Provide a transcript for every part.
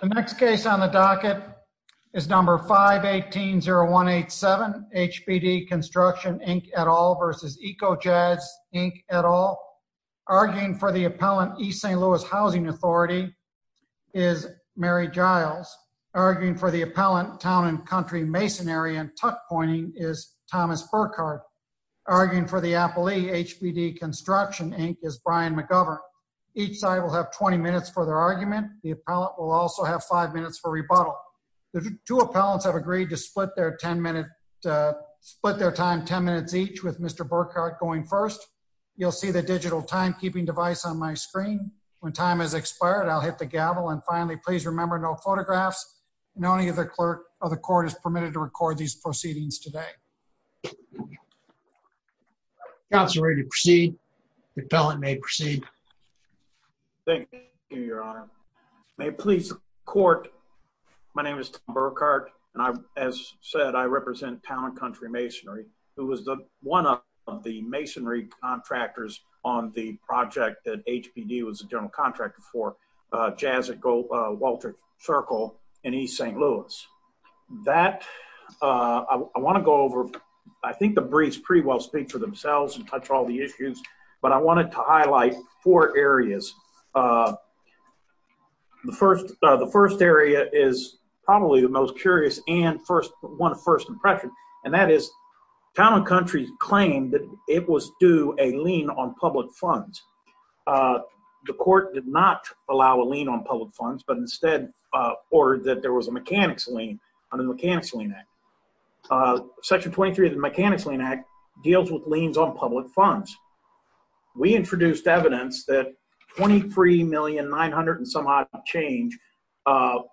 The next case on the docket is number 518-0187. H.B.D. Construction, Inc. et al. v. Eco Jazz, Inc. et al. Arguing for the appellant, East St. Louis Housing Authority, is Mary Giles. Arguing for the appellant, Town and Country Masonry and Tuck Pointing, is Thomas Burkhardt. Arguing for the appellee, H.B.D. Construction, Inc., is Brian McGovern. Each side will have 20 minutes for their argument. The appellant will also have 5 minutes for rebuttal. The two appellants have agreed to split their time 10 minutes each, with Mr. Burkhardt going first. You'll see the digital timekeeping device on my screen. When time has expired, I'll hit the gavel. And finally, please remember no photographs. No one of the court is permitted to record these proceedings today. Counselor, are you ready to proceed? The appellant may proceed. Thank you, Your Honor. May it please the court, my name is Thomas Burkhardt. As said, I represent Town and Country Masonry, who is one of the masonry contractors on the project that H.B.D. was a general contractor for, Jazz at Walter Circle in East St. Louis. I want to go over, I think the briefs pretty well speak for themselves and touch all the issues, but I wanted to highlight four areas. The first area is probably the most curious and one of first impressions, and that is Town and Country claimed that it was due a lien on public funds. The court did not allow a lien on public funds, but instead ordered that there was a mechanics lien under the Mechanics Lien Act. Section 23 of the Mechanics Lien Act deals with liens on public funds. We introduced evidence that $23,900,000 and some odd change of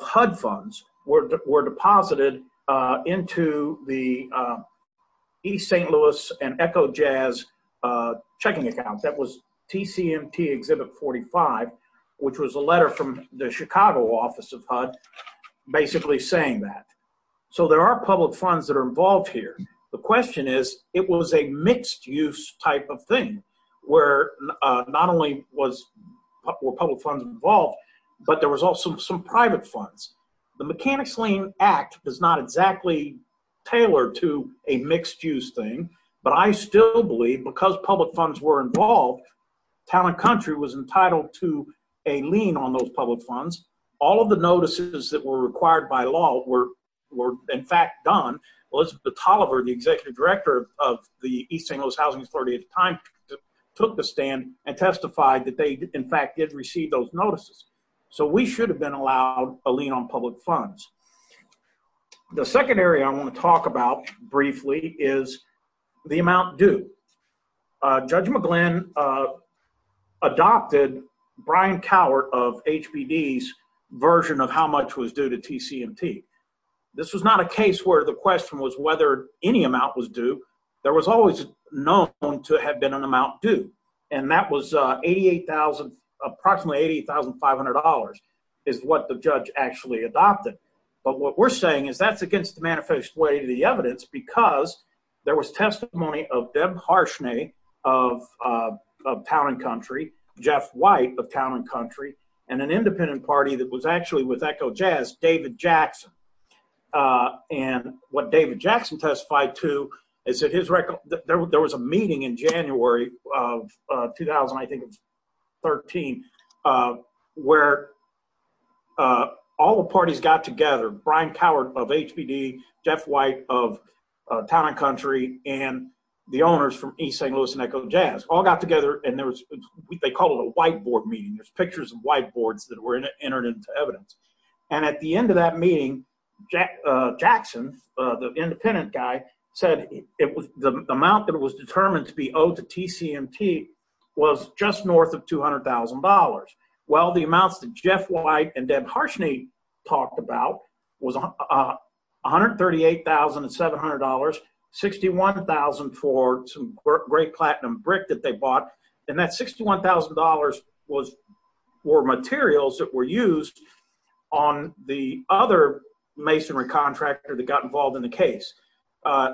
HUD funds were deposited into the East St. Louis and Echo Jazz checking accounts. That was TCMT Exhibit 45, which was a letter from the Chicago office of HUD basically saying that. So there are public funds that are involved here. The question is, it was a mixed-use type of thing where not only were public funds involved, but there was also some private funds. The Mechanics Lien Act is not exactly tailored to a mixed-use thing, but I still believe because public funds were involved, Town and Country was entitled to a lien on those public funds. All of the notices that were required by law were in fact done. Elizabeth Tolliver, the Executive Director of the East St. Louis Housing Authority at the time, took the stand and testified that they in fact did receive those notices. So we should have been allowed a lien on public funds. The second area I want to talk about briefly is the amount due. Judge McGlynn adopted Brian Cowart of HBD's version of how much was due to TCMT. This was not a case where the question was whether any amount was due. There was always known to have been an amount due, and that was approximately $88,500 is what the judge actually adopted. But what we're saying is that's against the manifesto way of the evidence because there was testimony of Deb Harshney of Town and Country, Jeff White of Town and Country, and an independent party that was actually with Echo Jazz, David Jackson. And what David Jackson testified to is that there was a meeting in January of 2013 where all the parties got together. Brian Cowart of HBD, Jeff White of Town and Country, and the owners from East St. Louis and Echo Jazz all got together and they called it a whiteboard meeting. There's pictures of whiteboards that were entered into evidence. And at the end of that meeting, Jackson, the independent guy, said the amount that was determined to be owed to TCMT was just north of $200,000. Well, the amounts that Jeff White and Deb Harshney talked about was $138,700, $61,000 for some great platinum brick that they bought, and that $61,000 was for materials that were used on the other masonry contractor that got involved in the case.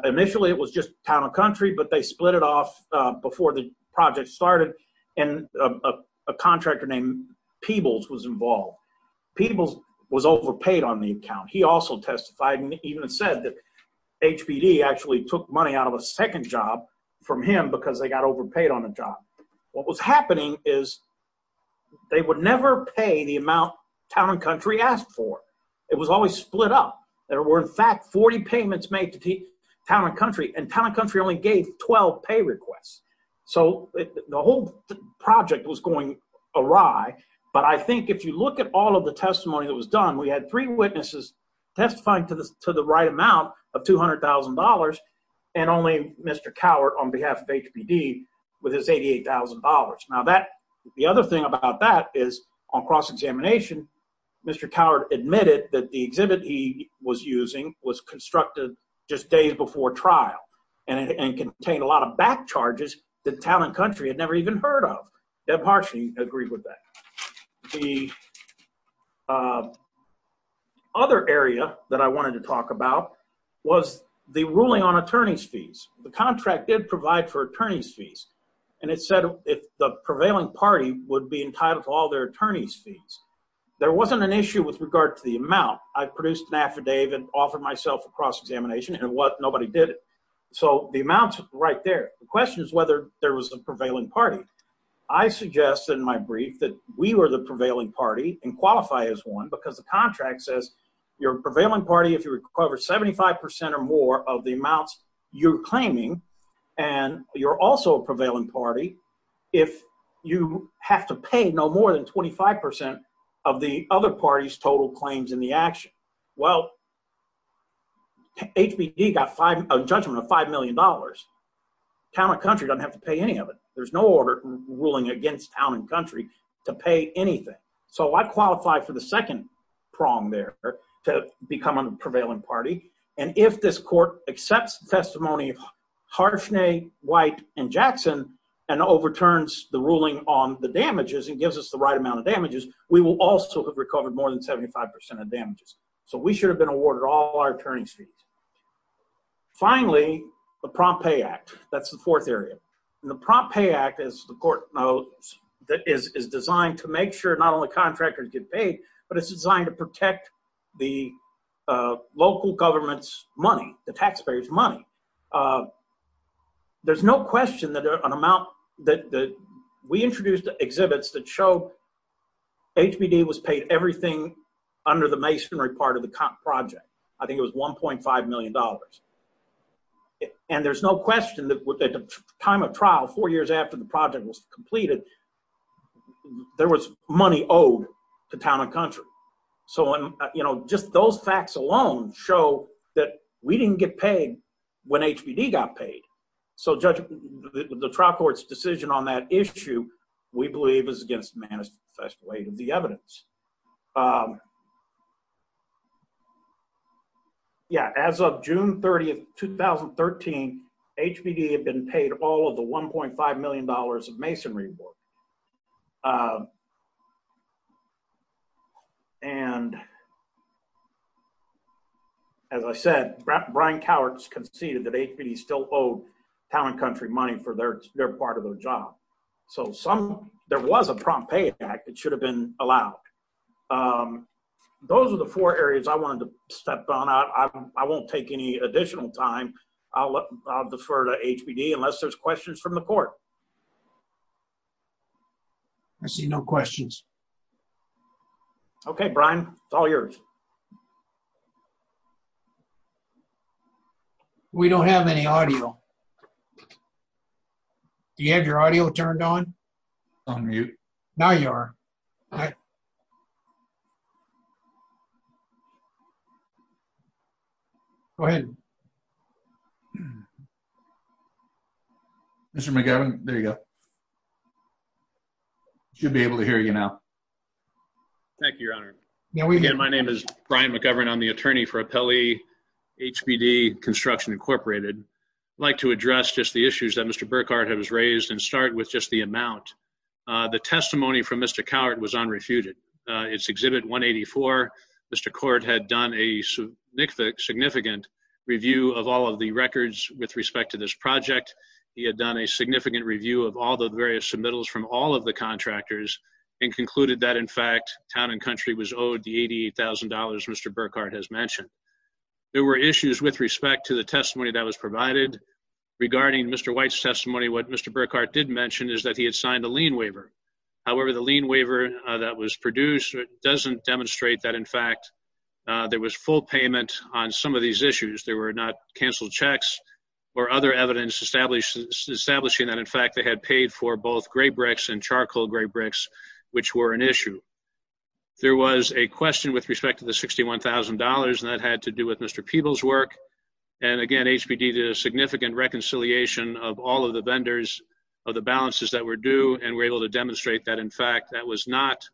Initially, it was just Town and Country, but they split it off before the project started, and a contractor named Peebles was involved. Peebles was overpaid on the account. He also testified and even said that HBD actually took money out of a second job from him because they got overpaid on the job. What was happening is they would never pay the amount Town and Country asked for. It was always split up. There were, in fact, 40 payments made to Town and Country, and Town and Country only gave 12 pay requests. The whole project was going awry, but I think if you look at all of the testimony that was done, we had three witnesses testifying to the right amount of $200,000 and only Mr. Cowart on behalf of HBD with his $88,000. Now, the other thing about that is on cross-examination, Mr. Cowart admitted that the exhibit he was using was constructed just days before trial and contained a lot of back charges that Town and Country had never even heard of. Deb Harshnie agreed with that. The other area that I wanted to talk about was the ruling on attorney's fees. The contract did provide for attorney's fees, and it said the prevailing party would be entitled to all their attorney's fees. There wasn't an issue with regard to the amount. I produced an affidavit and offered myself a cross-examination, and nobody did it, so the amount's right there. The question is whether there was a prevailing party. I suggested in my brief that we were the prevailing party and qualify as one because the contract says you're a prevailing party if you recover 75% or more of the amounts you're claiming, and you're also a prevailing party if you have to pay no more than 25% of the other party's total claims in the action. Well, HBD got a judgment of $5 million. Town and Country doesn't have to pay any of it. There's no order ruling against Town and Country to pay anything, so I qualify for the second prong there to become a prevailing party, and if this court accepts the testimony of Harshnie, White, and Jackson and overturns the ruling on the damages and gives us the right amount of damages, we will also have recovered more than 75% of damages. So we should have been awarded all our attorney's fees. Finally, the Prompt Pay Act. That's the fourth area. The Prompt Pay Act, as the court knows, is designed to make sure not only contractors get paid, but it's designed to protect the local government's money, the taxpayers' money. There's no question that we introduced exhibits that show HBD was paid everything under the masonry part of the project. I think it was $1.5 million, and there's no question that at the time of trial, four years after the project was completed, there was money owed to Town and Country. Just those facts alone show that we didn't get paid when HBD got paid, so the trial court's decision on that issue, we believe, is against the manifesto weight of the evidence. As of June 30, 2013, HBD had been paid all of the $1.5 million of masonry work. As I said, Brian Cowart conceded that HBD still owed Town and Country money for their part of the job. So there was a Prompt Pay Act that should have been allowed. Those are the four areas I wanted to step on. I won't take any additional time. I'll defer to HBD unless there's questions from the court. I see no questions. Okay, Brian. It's all yours. We don't have any audio. Do you have your audio turned on? It's on mute. Now you are. Go ahead. Mr. McGavin, there you go. He should be able to hear you now. Thank you, Your Honor. My name is Brian McGavin. I'm the attorney for Apelli HBD Construction Incorporated. I'd like to address just the issues that Mr. Burkhardt has raised and start with just the amount. The testimony from Mr. Cowart was unrefuted. It's Exhibit 184. Mr. Court had done a significant review of all of the records with respect to this project. He had done a significant review of all the various submittals from all of the contractors and concluded that, in fact, Town and Country was owed the $88,000 Mr. Burkhardt has mentioned. There were issues with respect to the testimony that was provided. Regarding Mr. White's testimony, what Mr. Burkhardt did mention is that he had signed a lien waiver. However, the lien waiver that was produced doesn't demonstrate that, in fact, there was full payment on some of these issues. There were not canceled checks or other evidence establishing that, in fact, they had paid for both gray bricks and charcoal gray bricks, which were an issue. There was a question with respect to the $61,000, and that had to do with Mr. Peebles' work. And, again, HBD did a significant reconciliation of all of the vendors of the balances that were due and were able to demonstrate that, in fact, that was not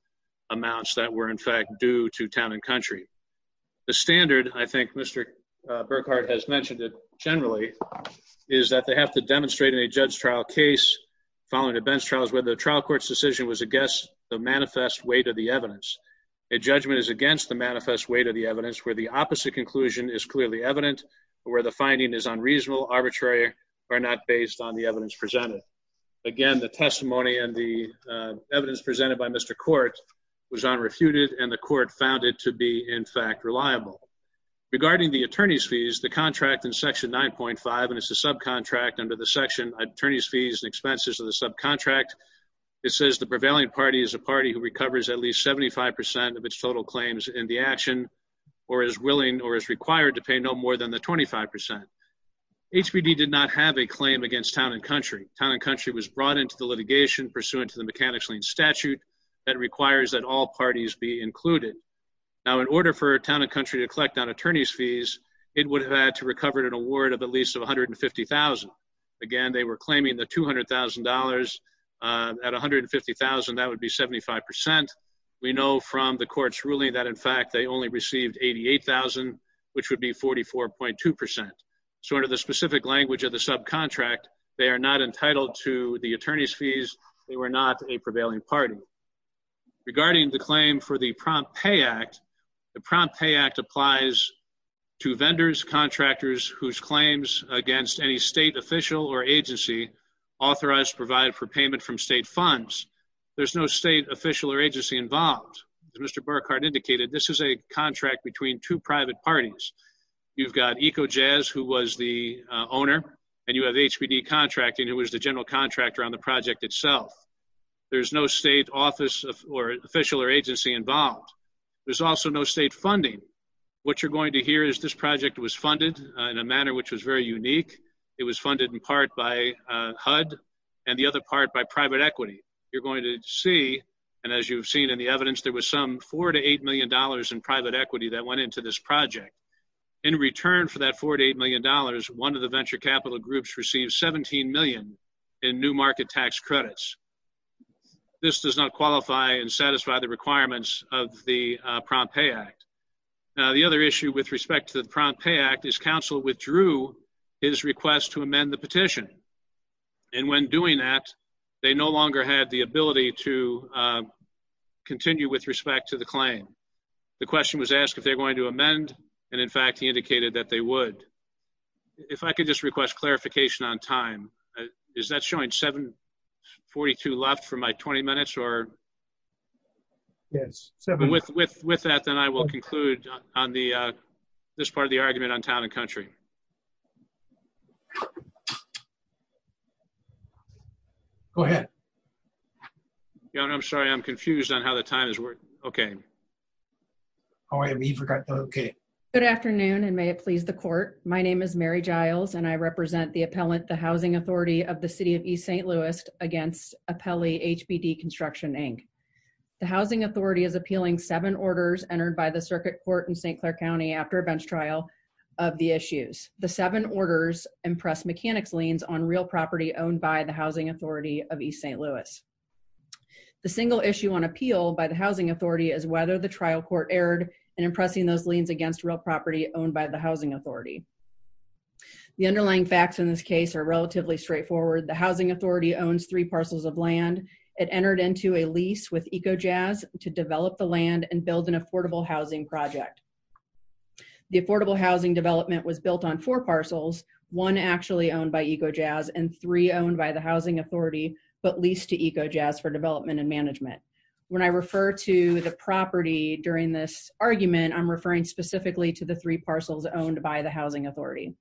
amounts that were, in fact, due to Town and Country. The standard, I think Mr. Burkhardt has mentioned it generally, is that they have to demonstrate in a judge trial case, following the bench trials, whether the trial court's decision was against the manifest weight of the evidence. A judgment is against the manifest weight of the evidence where the opposite conclusion is clearly evident or where the finding is unreasonable, arbitrary, or not based on the evidence presented. Again, the testimony and the evidence presented by Mr. Court was unrefuted, and the court found it to be, in fact, reliable. Regarding the attorney's fees, the contract in Section 9.5, and it's a subcontract under the section Attorney's Fees and Expenses of the Subcontract, it says the prevailing party is a party who recovers at least 75% of its total claims in the action or is willing or is required to pay no more than the 25%. HPD did not have a claim against Town and Country. Town and Country was brought into the litigation pursuant to the mechanics lien statute that requires that all parties be included. Now, in order for Town and Country to collect on attorney's fees, it would have had to recover an award of at least $150,000. Again, they were claiming the $200,000. At $150,000, that would be 75%. We know from the court's ruling that, in fact, they only received $88,000, which would be 44.2%. So under the specific language of the subcontract, they are not entitled to the attorney's fees. They were not a prevailing party. Regarding the claim for the Prompt Pay Act, the Prompt Pay Act applies to vendors, contractors whose claims against any state official or agency authorized to provide for payment from state funds. There's no state official or agency involved. As Mr. Burkhart indicated, this is a contract between two private parties. You've got EcoJazz, who was the owner, and you have HPD Contracting, who was the general contractor on the project itself. There's no state office or official or agency involved. There's also no state funding. What you're going to hear is this project was funded in a manner which was very unique. It was funded in part by HUD and the other part by private equity. You're going to see, and as you've seen in the evidence, there was some $4 to $8 million in private equity that went into this project. In return for that $4 to $8 million, one of the venture capital groups received $17 million in new market tax credits. This does not qualify and satisfy the requirements of the Prompt Pay Act. Now, the other issue with respect to the Prompt Pay Act is counsel withdrew his request to amend the petition. And when doing that, they no longer had the ability to continue with respect to the claim. The question was asked if they're going to amend, and in fact, he indicated that they would. If I could just request clarification on time. Is that showing 7.42 left for my 20 minutes? Yes. With that, then I will conclude on this part of the argument on town and country. Go ahead. I'm sorry. I'm confused on how the time is working. Okay. All right. Okay. Good afternoon, and may it please the court. My name is Mary Giles, and I represent the appellant, the housing authority of the city of East St. Louis, against appellee HBD Construction, Inc. The housing authority is appealing seven orders entered by the circuit court in St. Clair County after a bench trial of the issues. The seven orders impress mechanics liens on real property owned by the housing authority of East St. Louis. The single issue on appeal by the housing authority is whether the trial court erred in impressing those liens against real property owned by the housing authority. The underlying facts in this case are relatively straightforward. The housing authority owns three parcels of land. It entered into a lease with EcoJazz to develop the land and build an affordable housing project. The affordable housing development was built on four parcels, one actually owned by EcoJazz and three owned by the housing authority, but leased to EcoJazz for development and management. When I refer to the property during this argument, I'm referring specifically to the three parcels owned by the housing authority.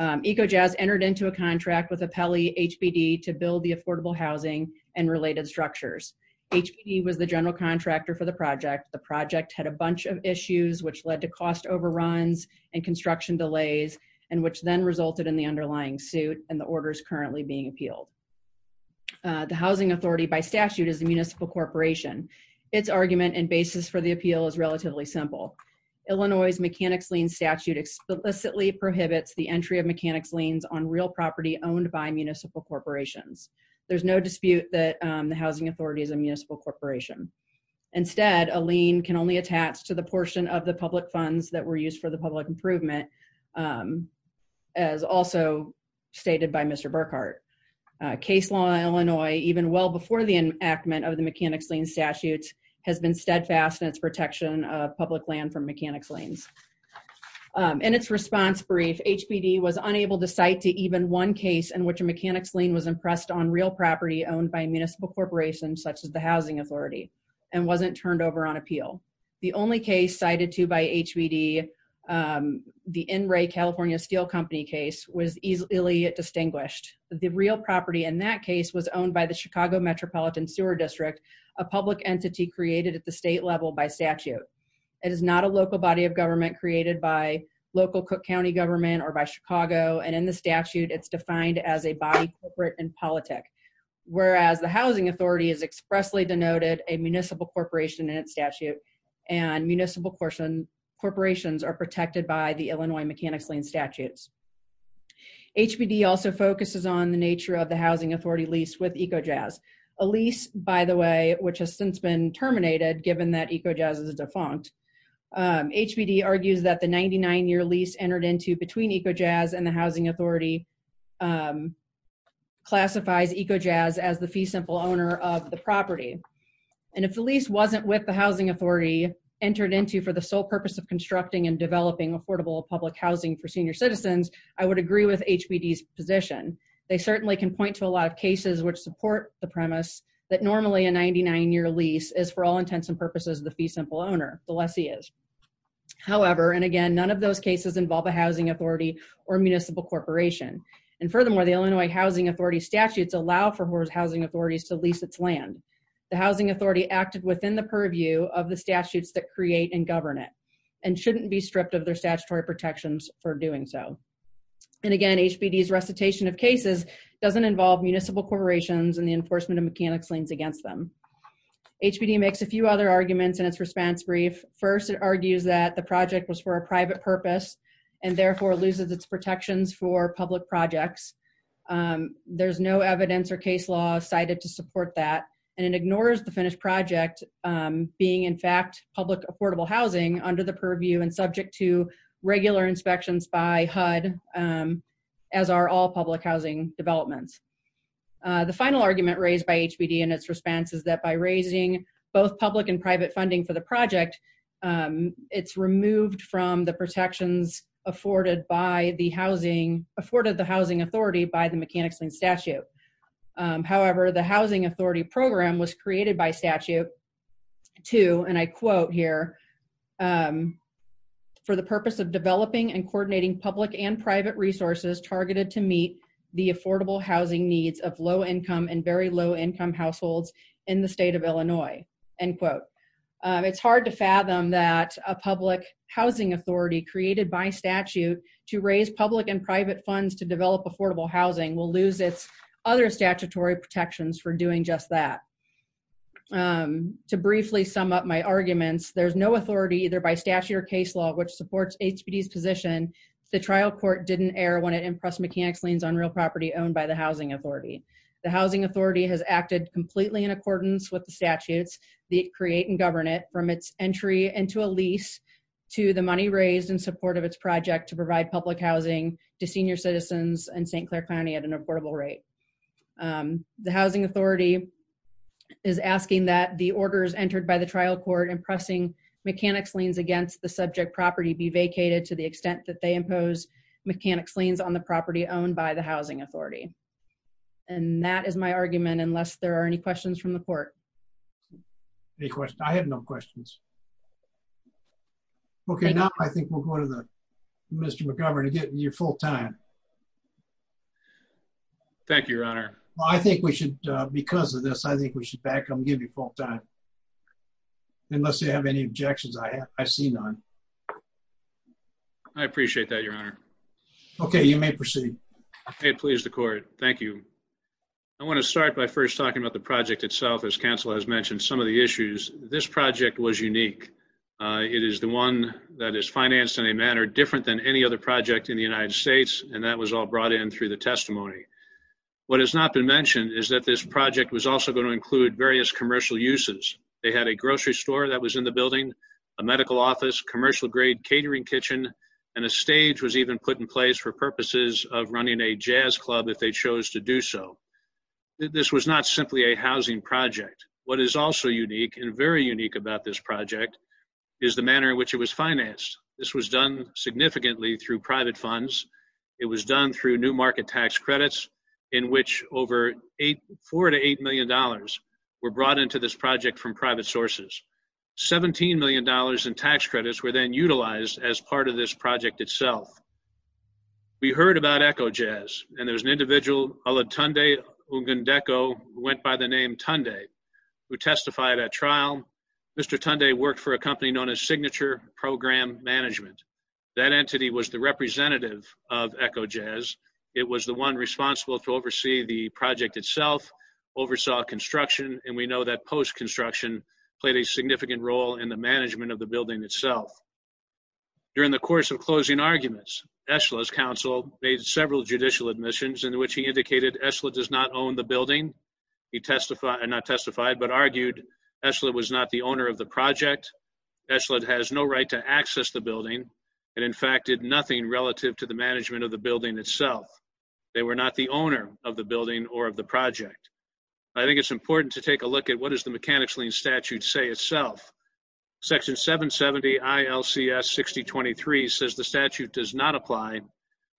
EcoJazz entered into a contract with appellee HBD to build the affordable housing and related structures. HBD was the general contractor for the project. The project had a bunch of issues which led to cost overruns and construction delays and which then resulted in the underlying suit and the orders currently being appealed. The housing authority by statute is a municipal corporation. Its argument and basis for the appeal is relatively simple. Illinois' mechanics lien statute explicitly prohibits the entry of mechanics liens on real property owned by municipal corporations. There's no dispute that the housing authority is a municipal corporation. Instead, a lien can only attach to the portion of the public funds that were used for the public improvement, as also stated by Mr. Burkhart. Case law in Illinois, even well before the enactment of the mechanics lien statute, has been steadfast in its protection of public land from mechanics liens. In its response brief, HBD was unable to cite to even one case in which a mechanics lien was impressed on real property owned by a municipal corporation, such as the housing authority, and wasn't turned over on appeal. The only case cited to by HBD, the NRA California Steel Company case, was easily distinguished. The real property in that case was owned by the Chicago Metropolitan Sewer District, a public entity created at the state level by statute. It is not a local body of government created by local Cook County government or by Chicago, and in the statute it's defined as a body corporate and politic. Whereas the housing authority has expressly denoted a municipal corporation in its statute, and municipal corporations are protected by the Illinois mechanics lien statutes. HBD also focuses on the nature of the housing authority lease with EcoJazz. A lease, by the way, which has since been terminated given that EcoJazz is a defunct, HBD argues that the 99 year lease entered into between EcoJazz and the housing authority classifies EcoJazz as the fee simple owner of the property. And if the lease wasn't with the housing authority entered into for the sole purpose of constructing and developing affordable public housing for senior citizens, I would agree with HBD's position. They certainly can point to a lot of cases which support the premise that normally a 99 year lease is for all intents and purposes the fee simple owner, the lessee is. However, and again, none of those cases involve a housing authority or municipal corporation. And furthermore, the Illinois housing authority statutes allow for housing authorities to lease its land. The housing authority acted within the purview of the statutes that create and govern it, and shouldn't be stripped of their statutory protections for doing so. And again, HBD's recitation of cases doesn't involve municipal corporations and the enforcement of mechanics liens against them. HBD makes a few other arguments in its response brief. First, it argues that the project was for a private purpose, and therefore loses its protections for public projects. There's no evidence or case law cited to support that, and it ignores the finished project being in fact public affordable housing under the purview and subject to regular inspections by HUD, as are all public housing developments. The final argument raised by HBD in its response is that by raising both public and private funding for the project, it's removed from the protections afforded by the housing afforded the housing authority by the mechanics and statute. However, the housing authority program was created by statute to, and I quote here, for the purpose of developing and coordinating public and private resources targeted to meet the affordable housing needs of low income and very low income households in the state of Illinois, end quote. It's hard to fathom that a public housing authority created by statute to raise public and private funds to develop affordable housing will lose its other statutory protections for doing just that. To briefly sum up my arguments, there's no authority either by statute or case law which supports HBD's position. The trial court didn't err when it impressed mechanics liens on real property owned by the housing authority. The housing authority has acted completely in accordance with the statutes that create and govern it from its entry into a lease to the money raised in support of its project to provide public housing to senior citizens in St. Clair County at an affordable rate. The housing authority is asking that the orders entered by the trial court and pressing mechanics liens against the subject property be vacated to the extent that they impose mechanics liens on the property owned by the housing authority. And that is my argument, unless there are any questions from the court. Any questions? I have no questions. Okay, now I think we'll go to the Mr. McGovern to get your full time. Thank you, Your Honor. I think we should, because of this, I think we should back up and give you full time. Unless you have any objections, I see none. I appreciate that, Your Honor. Okay, you may proceed. Okay, please, the court. Thank you. I want to start by first talking about the project itself, as counsel has mentioned some of the issues. This project was unique. It is the one that is financed in a manner different than any other project in the United States, and that was all brought in through the testimony. What has not been mentioned is that this project was also going to include various commercial uses. They had a grocery store that was in the building, a medical office, commercial grade catering kitchen, and a stage was even put in place for purposes of running a jazz club if they chose to do so. This was not simply a housing project. What is also unique and very unique about this project is the manner in which it was financed. This was done significantly through private funds. It was done through new market tax credits, in which over $4 to $8 million were brought into this project from private sources. $17 million in tax credits were then utilized as part of this project itself. We heard about Echo Jazz, and there was an individual, a la Tunde Ogundeko, who went by the name Tunde, who testified at trial. Mr. Tunde worked for a company known as Signature Program Management. That entity was the representative of Echo Jazz. It was the one responsible to oversee the project itself, oversaw construction, and we know that post-construction played a significant role in the management of the building itself. During the course of closing arguments, Esla's counsel made several judicial admissions in which he indicated Esla does not own the building. He testified, not testified, but argued Esla was not the owner of the project. Esla has no right to access the building and, in fact, did nothing relative to the management of the building itself. They were not the owner of the building or of the project. I think it's important to take a look at what does the Mechanics' Lien statute say itself. Section 770 ILCS 6023 says the statute does not apply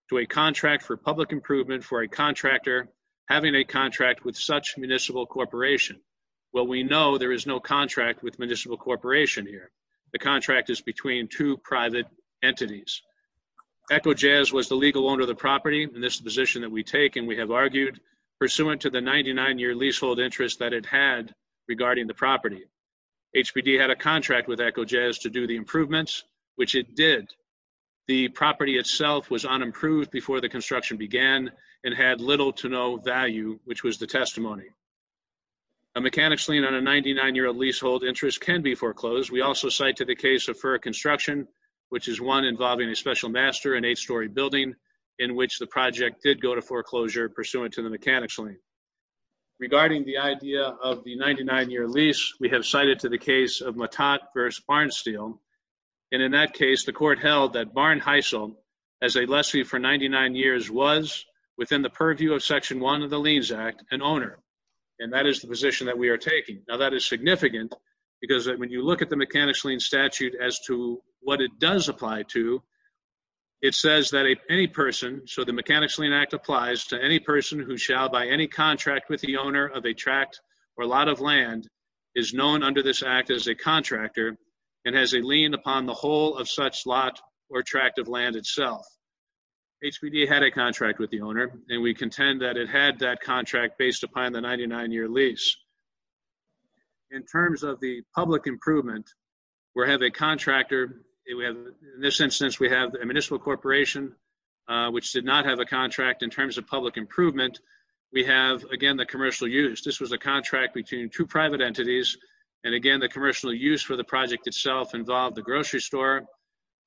to a contract for public improvement for a contractor having a contract with such municipal corporation. Well, we know there is no contract with municipal corporation here. The contract is between two private entities. Echo Jazz was the legal owner of the property in this position that we take, and we have argued, pursuant to the 99-year leasehold interest that it had regarding the property. HPD had a contract with Echo Jazz to do the improvements, which it did. The property itself was unimproved before the construction began and had little to no value, which was the testimony. A Mechanics' Lien on a 99-year leasehold interest can be foreclosed. We also cite to the case of Furr Construction, which is one involving a special master, an eight-story building, in which the project did go to foreclosure, pursuant to the Mechanics' Lien. Regarding the idea of the 99-year lease, we have cited to the case of Mattat v. Barnsteel. And in that case, the court held that Barn Heisel, as a lessee for 99 years, was, within the purview of Section 1 of the Liens Act, an owner. And that is the position that we are taking. Now, that is significant, because when you look at the Mechanics' Lien statute as to what it does apply to, it says that any person, so the Mechanics' Lien Act applies to any person who shall, by any contract with the owner of a tract or lot of land, is known under this act as a contractor and has a lien upon the whole of such lot or tract of land itself. HPD had a contract with the owner, and we contend that it had that contract based upon the 99-year lease. In terms of the public improvement, we have a contractor. In this instance, we have a municipal corporation, which did not have a contract in terms of public improvement. We have, again, the commercial use. This was a contract between two private entities, and, again, the commercial use for the project itself involved the grocery store,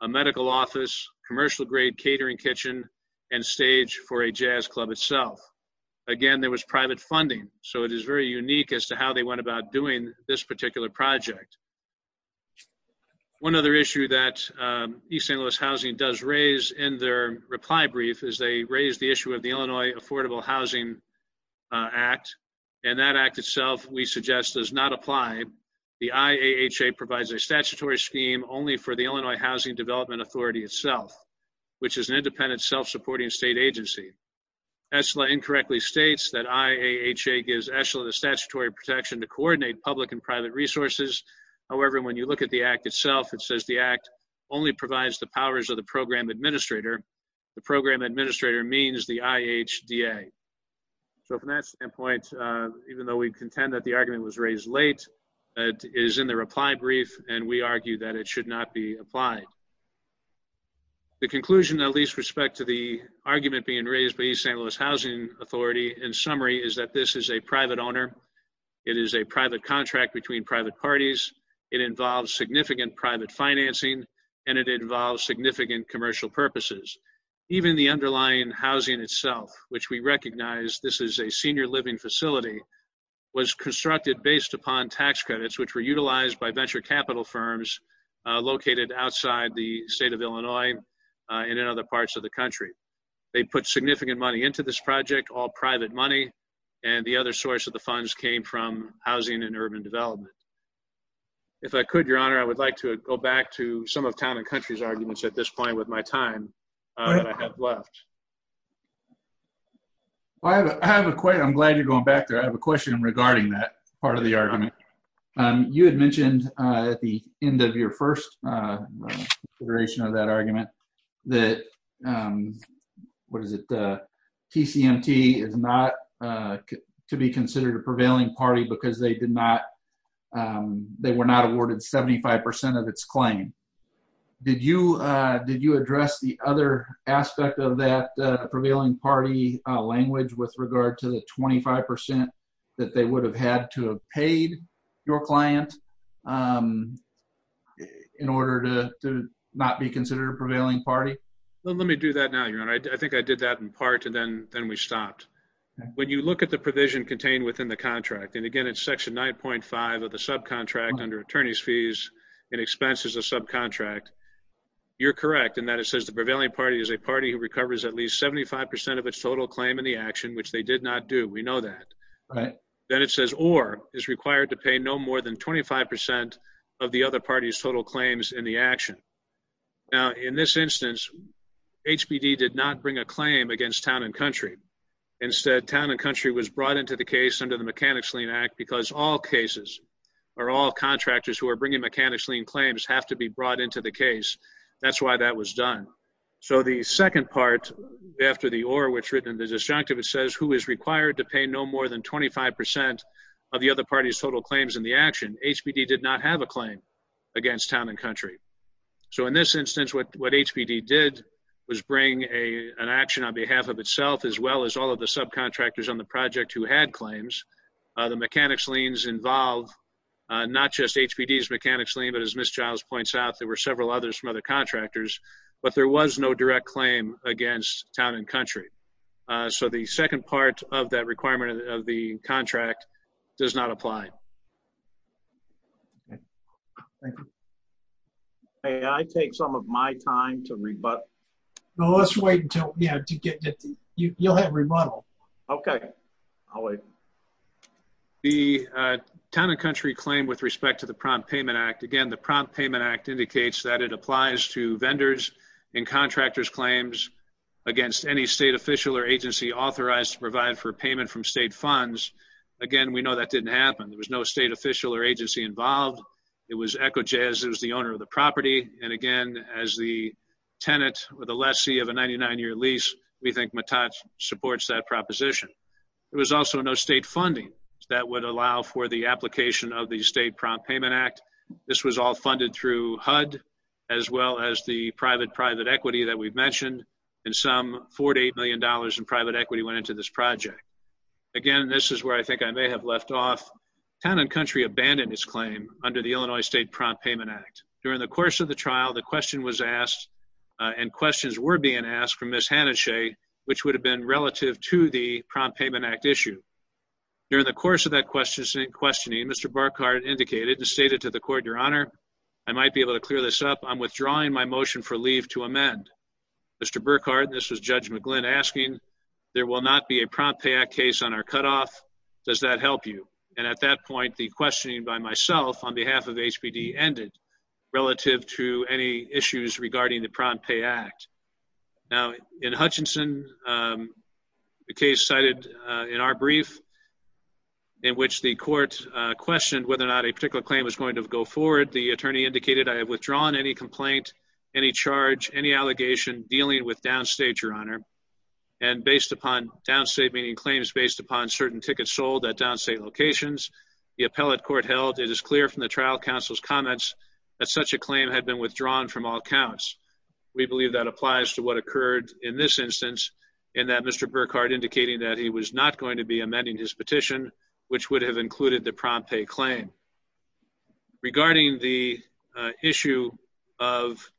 a medical office, commercial-grade catering kitchen, and stage for a jazz club itself. Again, there was private funding, so it is very unique as to how they went about doing this particular project. One other issue that East St. Louis Housing does raise in their reply brief is they raised the issue of the Illinois Affordable Housing Act, and that act itself, we suggest, does not apply. The IAHA provides a statutory scheme only for the Illinois Housing Development Authority itself, which is an independent, self-supporting state agency. ESLA incorrectly states that IAHA gives ESLA the statutory protection to coordinate public and private resources. However, when you look at the act itself, it says the act only provides the powers of the program administrator. The program administrator means the IHDA. So, from that standpoint, even though we contend that the argument was raised late, it is in the reply brief, and we argue that it should not be applied. The conclusion that leaves respect to the argument being raised by East St. Louis Housing Authority in summary is that this is a private owner. It is a private contract between private parties. It involves significant private financing, and it involves significant commercial purposes. Even the underlying housing itself, which we recognize this is a senior living facility, was constructed based upon tax credits, which were utilized by venture capital firms located outside the state of Illinois and in other parts of the country. They put significant money into this project, all private money, and the other source of the funds came from housing and urban development. If I could, Your Honor, I would like to go back to some of Town and Country's arguments at this point with my time that I have left. I have a question. I'm glad you're going back there. I have a question regarding that part of the argument. You had mentioned at the end of your first iteration of that argument that TCMT is not to be considered a prevailing party because they were not awarded 75% of its claim. Did you address the other aspect of that prevailing party language with regard to the 25% that they would have had to have paid your client in order to not be considered a prevailing party? Let me do that now, Your Honor. I think I did that in part, and then we stopped. When you look at the provision contained within the contract, and again, it's section 9.5 of the subcontract under attorney's fees and expenses of subcontract, you're correct in that it says the prevailing party is a party who recovers at least 75% of its total claim in the action, which they did not do. We know that. Then it says or is required to pay no more than 25% of the other party's total claims in the action. Now, in this instance, HBD did not bring a claim against Town & Country. Instead, Town & Country was brought into the case under the Mechanics Lien Act because all cases or all contractors who are bringing Mechanics Lien claims have to be brought into the case. That's why that was done. So the second part after the or which is written in the disjunctive, it says who is required to pay no more than 25% of the other party's total claims in the action. HBD did not have a claim against Town & Country. So in this instance, what HBD did was bring an action on behalf of itself as well as all of the subcontractors on the project who had claims. The Mechanics Liens involve not just HBD's Mechanics Lien, but as Ms. Giles points out, there were several others from other contractors, but there was no direct claim against Town & Country. So the second part of that requirement of the contract does not apply. Okay. Thank you. May I take some of my time to rebut? No, let's wait until, you know, to get to, you'll have rebuttal. Okay. I'll wait. The Town & Country claim with respect to the Prompt Payment Act, again, the Prompt Payment Act indicates that it applies to vendors and contractors' claims against any state official or agency authorized to provide for payment from state funds. Again, we know that didn't happen. There was no state official or agency involved. It was ECHOJS. It was the owner of the property. And again, as the tenant or the lessee of a 99-year lease, we think MATAT supports that proposition. There was also no state funding that would allow for the application of the State Prompt Payment Act. This was all funded through HUD, as well as the private-private equity that we've mentioned. In sum, $48 million in private equity went into this project. Again, this is where I think I may have left off. Town & Country abandoned its claim under the Illinois State Prompt Payment Act. During the course of the trial, the question was asked, and questions were being asked, from Ms. Hanischay, which would have been relative to the Prompt Payment Act issue. During the course of that questioning, Mr. Burkhardt indicated and stated to the court, Your Honor, I might be able to clear this up. I'm withdrawing my motion for leave to amend. Mr. Burkhardt, this was Judge McGlynn asking, There will not be a Prompt Payment Act case on our cutoff. Does that help you? And at that point, the questioning by myself on behalf of HBD ended relative to any issues regarding the Prompt Payment Act. Now, in Hutchinson, the case cited in our brief, in which the court questioned whether or not a particular claim was going to go forward, the attorney indicated, I have withdrawn any complaint, any charge, any allegation dealing with downstate, Your Honor. And based upon downstate, meaning claims based upon certain tickets sold at downstate locations, the appellate court held, it is clear from the trial counsel's comments that such a claim had been withdrawn from all counts. We believe that applies to what occurred in this instance, in that Mr. Burkhardt indicating that he was not going to be amending his petition, which would have included the prompt pay claim. Regarding the issue of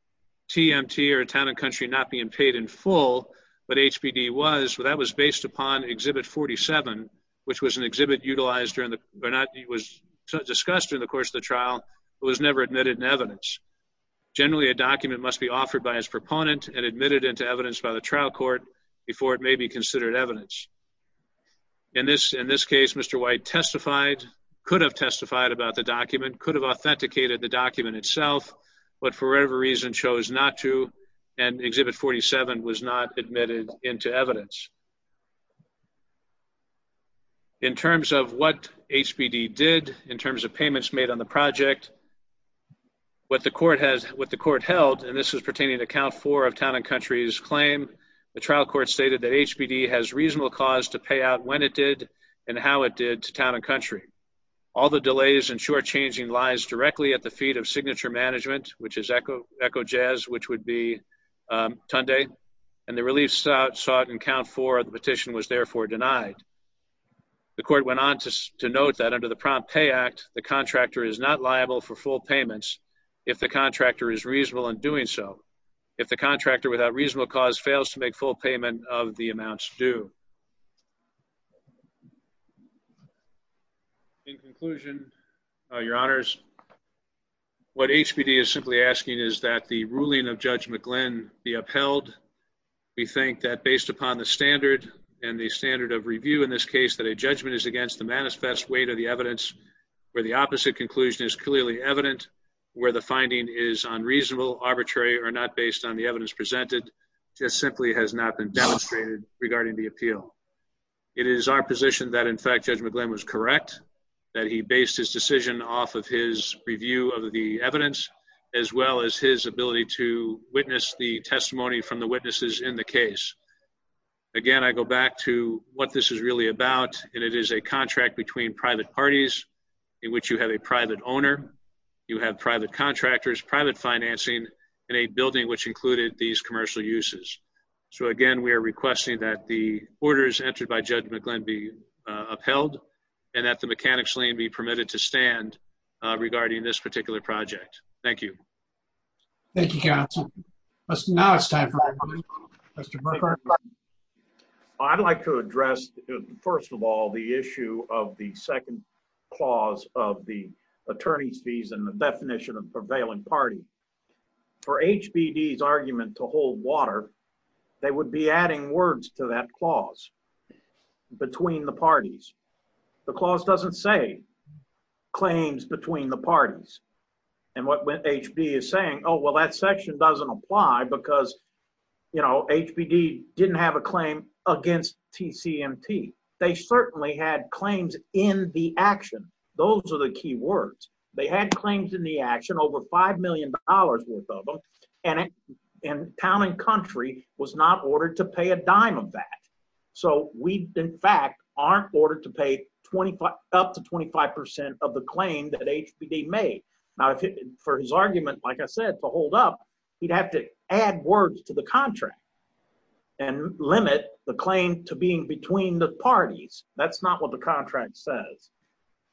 TMT, or Town and Country, not being paid in full, what HBD was, that was based upon Exhibit 47, which was an exhibit utilized during the, or not, it was discussed during the course of the trial, but was never admitted in evidence. Generally, a document must be offered by its proponent and admitted into evidence by the trial court before it may be considered evidence. In this case, Mr. White testified, could have testified about the document, could have authenticated the document itself, but for whatever reason chose not to, and Exhibit 47 was not admitted into evidence. In terms of what HBD did, in terms of payments made on the project, what the court held, and this is pertaining to Count 4 of Town and Country's claim, the trial court stated that HBD has reasonable cause to pay out when it did and how it did to Town and Country. All the delays and shortchanging lies directly at the feet of Signature Management, which is Echo Jazz, which would be Tunday, and the relief sought in Count 4 of the petition was therefore denied. The court went on to note that under the Prompt Pay Act, the contractor is not liable for full payments if the contractor is reasonable in doing so. If the contractor, without reasonable cause, fails to make full payment of the amounts due. In conclusion, Your Honors, what HBD is simply asking is that the ruling of Judge McGlynn be upheld. We think that based upon the standard and the standard of review in this case, that a judgment is against the manifest weight of the evidence, where the opposite conclusion is clearly evident, where the finding is unreasonable, arbitrary, or not based on the evidence presented, just simply has not been demonstrated regarding the appeal. It is our position that, in fact, Judge McGlynn was correct, that he based his decision off of his review of the evidence, as well as his ability to witness the testimony from the witnesses in the case. Again, I go back to what this is really about, and it is a contract between private parties in which you have a private owner, you have private contractors, private financing, and a building which included these commercial uses. So, again, we are requesting that the orders entered by Judge McGlynn be upheld, and that the mechanics lien be permitted to stand regarding this particular project. Thank you. Thank you, counsel. Now it's time for Mr. Burkhardt. I'd like to address, first of all, the issue of the second clause of the attorney's fees and the definition of prevailing party. For HBD's argument to hold water, they would be adding words to that clause, between the parties. The clause doesn't say claims between the parties. And what HBD is saying, oh, well, that section doesn't apply because, you know, HBD didn't have a claim against TCMT. They certainly had claims in the action. Those are the key words. They had claims in the action, over $5 million worth of them, and town and country was not ordered to pay a dime of that. So we, in fact, aren't ordered to pay up to 25% of the claim that HBD made. Now, for his argument, like I said, to hold up, he'd have to add words to the contract and limit the claim to being between the parties. That's not what the contract says.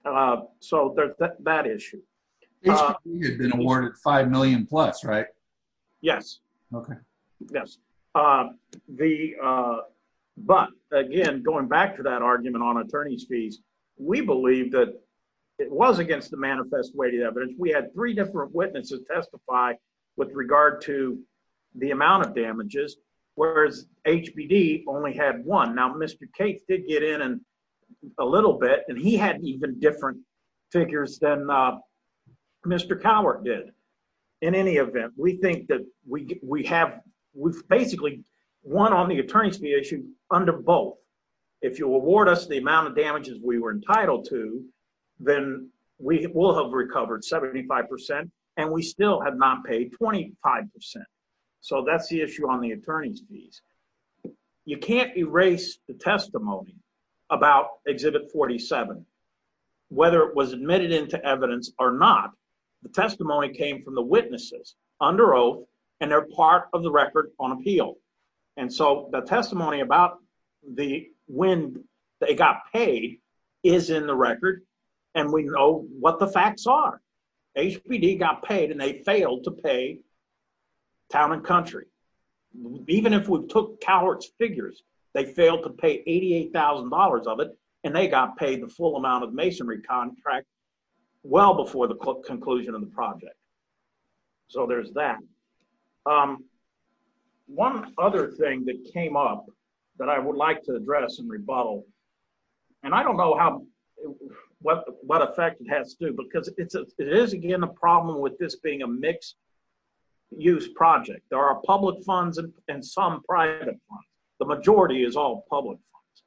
So that issue. HBD had been awarded $5 million plus, right? Yes. Okay. Yes. But, again, going back to that argument on attorney's fees, we believe that it was against the manifest way to evidence. We had three different witnesses testify with regard to the amount of damages, whereas HBD only had one. Now, Mr. Cates did get in a little bit, and he had even different figures than Mr. Cowart did. In any event, we think that we have basically won on the attorney's fee issue under both. If you award us the amount of damages we were entitled to, then we will have recovered 75%, and we still have not paid 25%. So that's the issue on the attorney's fees. You can't erase the testimony about Exhibit 47. Whether it was admitted into evidence or not, the testimony came from the witnesses under oath, and they're part of the record on appeal. And so the testimony about when they got paid is in the record, and we know what the facts are. HBD got paid, and they failed to pay Town & Country. Even if we took Cowart's figures, they failed to pay $88,000 of it, and they got paid the full amount of masonry contract well before the conclusion of the project. So there's that. One other thing that came up that I would like to address and rebuttal, and I don't know what effect it has to, because it is, again, a problem with this being a mixed-use project. There are public funds and some private funds. The majority is all public funds.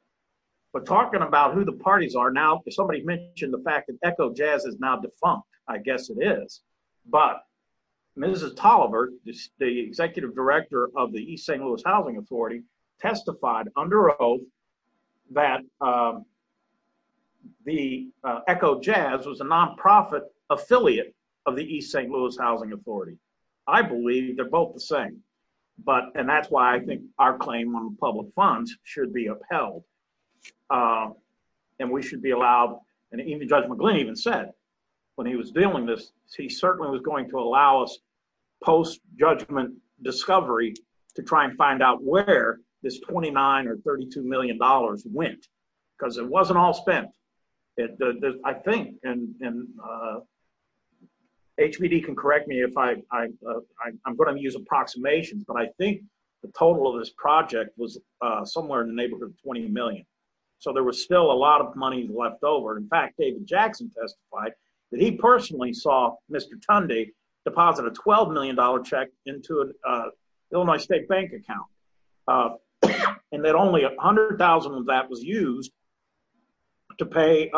But talking about who the parties are now, somebody mentioned the fact that Echo Jazz is now defunct. I guess it is. But Mrs. Toliver, the executive director of the East St. Louis Housing Authority, testified under oath that Echo Jazz was a nonprofit affiliate of the East St. Louis Housing Authority. I believe they're both the same, and that's why I think our claim on public funds should be upheld. And we should be allowed, and Judge McGlynn even said when he was dealing with this, he certainly was going to allow us post-judgment discovery to try and find out where this $29 or $32 million went, because it wasn't all spent. I think, and HPD can correct me if I'm going to use approximations, but I think the total of this project was somewhere in the neighborhood of $20 million. So there was still a lot of money left over. In fact, David Jackson testified that he personally saw Mr. Tunde deposit a $12 million check into an Illinois State Bank account, and that only $100,000 of that was used to pay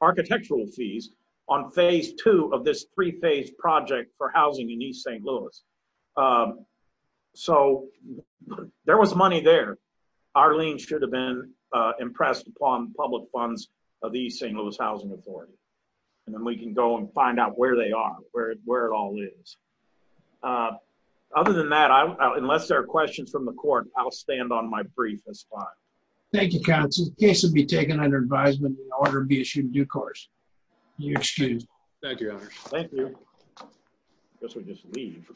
architectural fees on phase two of this three-phase project for housing in East St. Louis. So there was money there. Our lien should have been impressed upon public funds of the East St. Louis Housing Authority. And then we can go and find out where they are, where it all is. Other than that, unless there are questions from the court, I'll stand on my brief as fine. Thank you, counsel. The case will be taken under advisement and the order be issued due course. You're excused. Thank you, Your Honor. Thank you. I guess we just leave.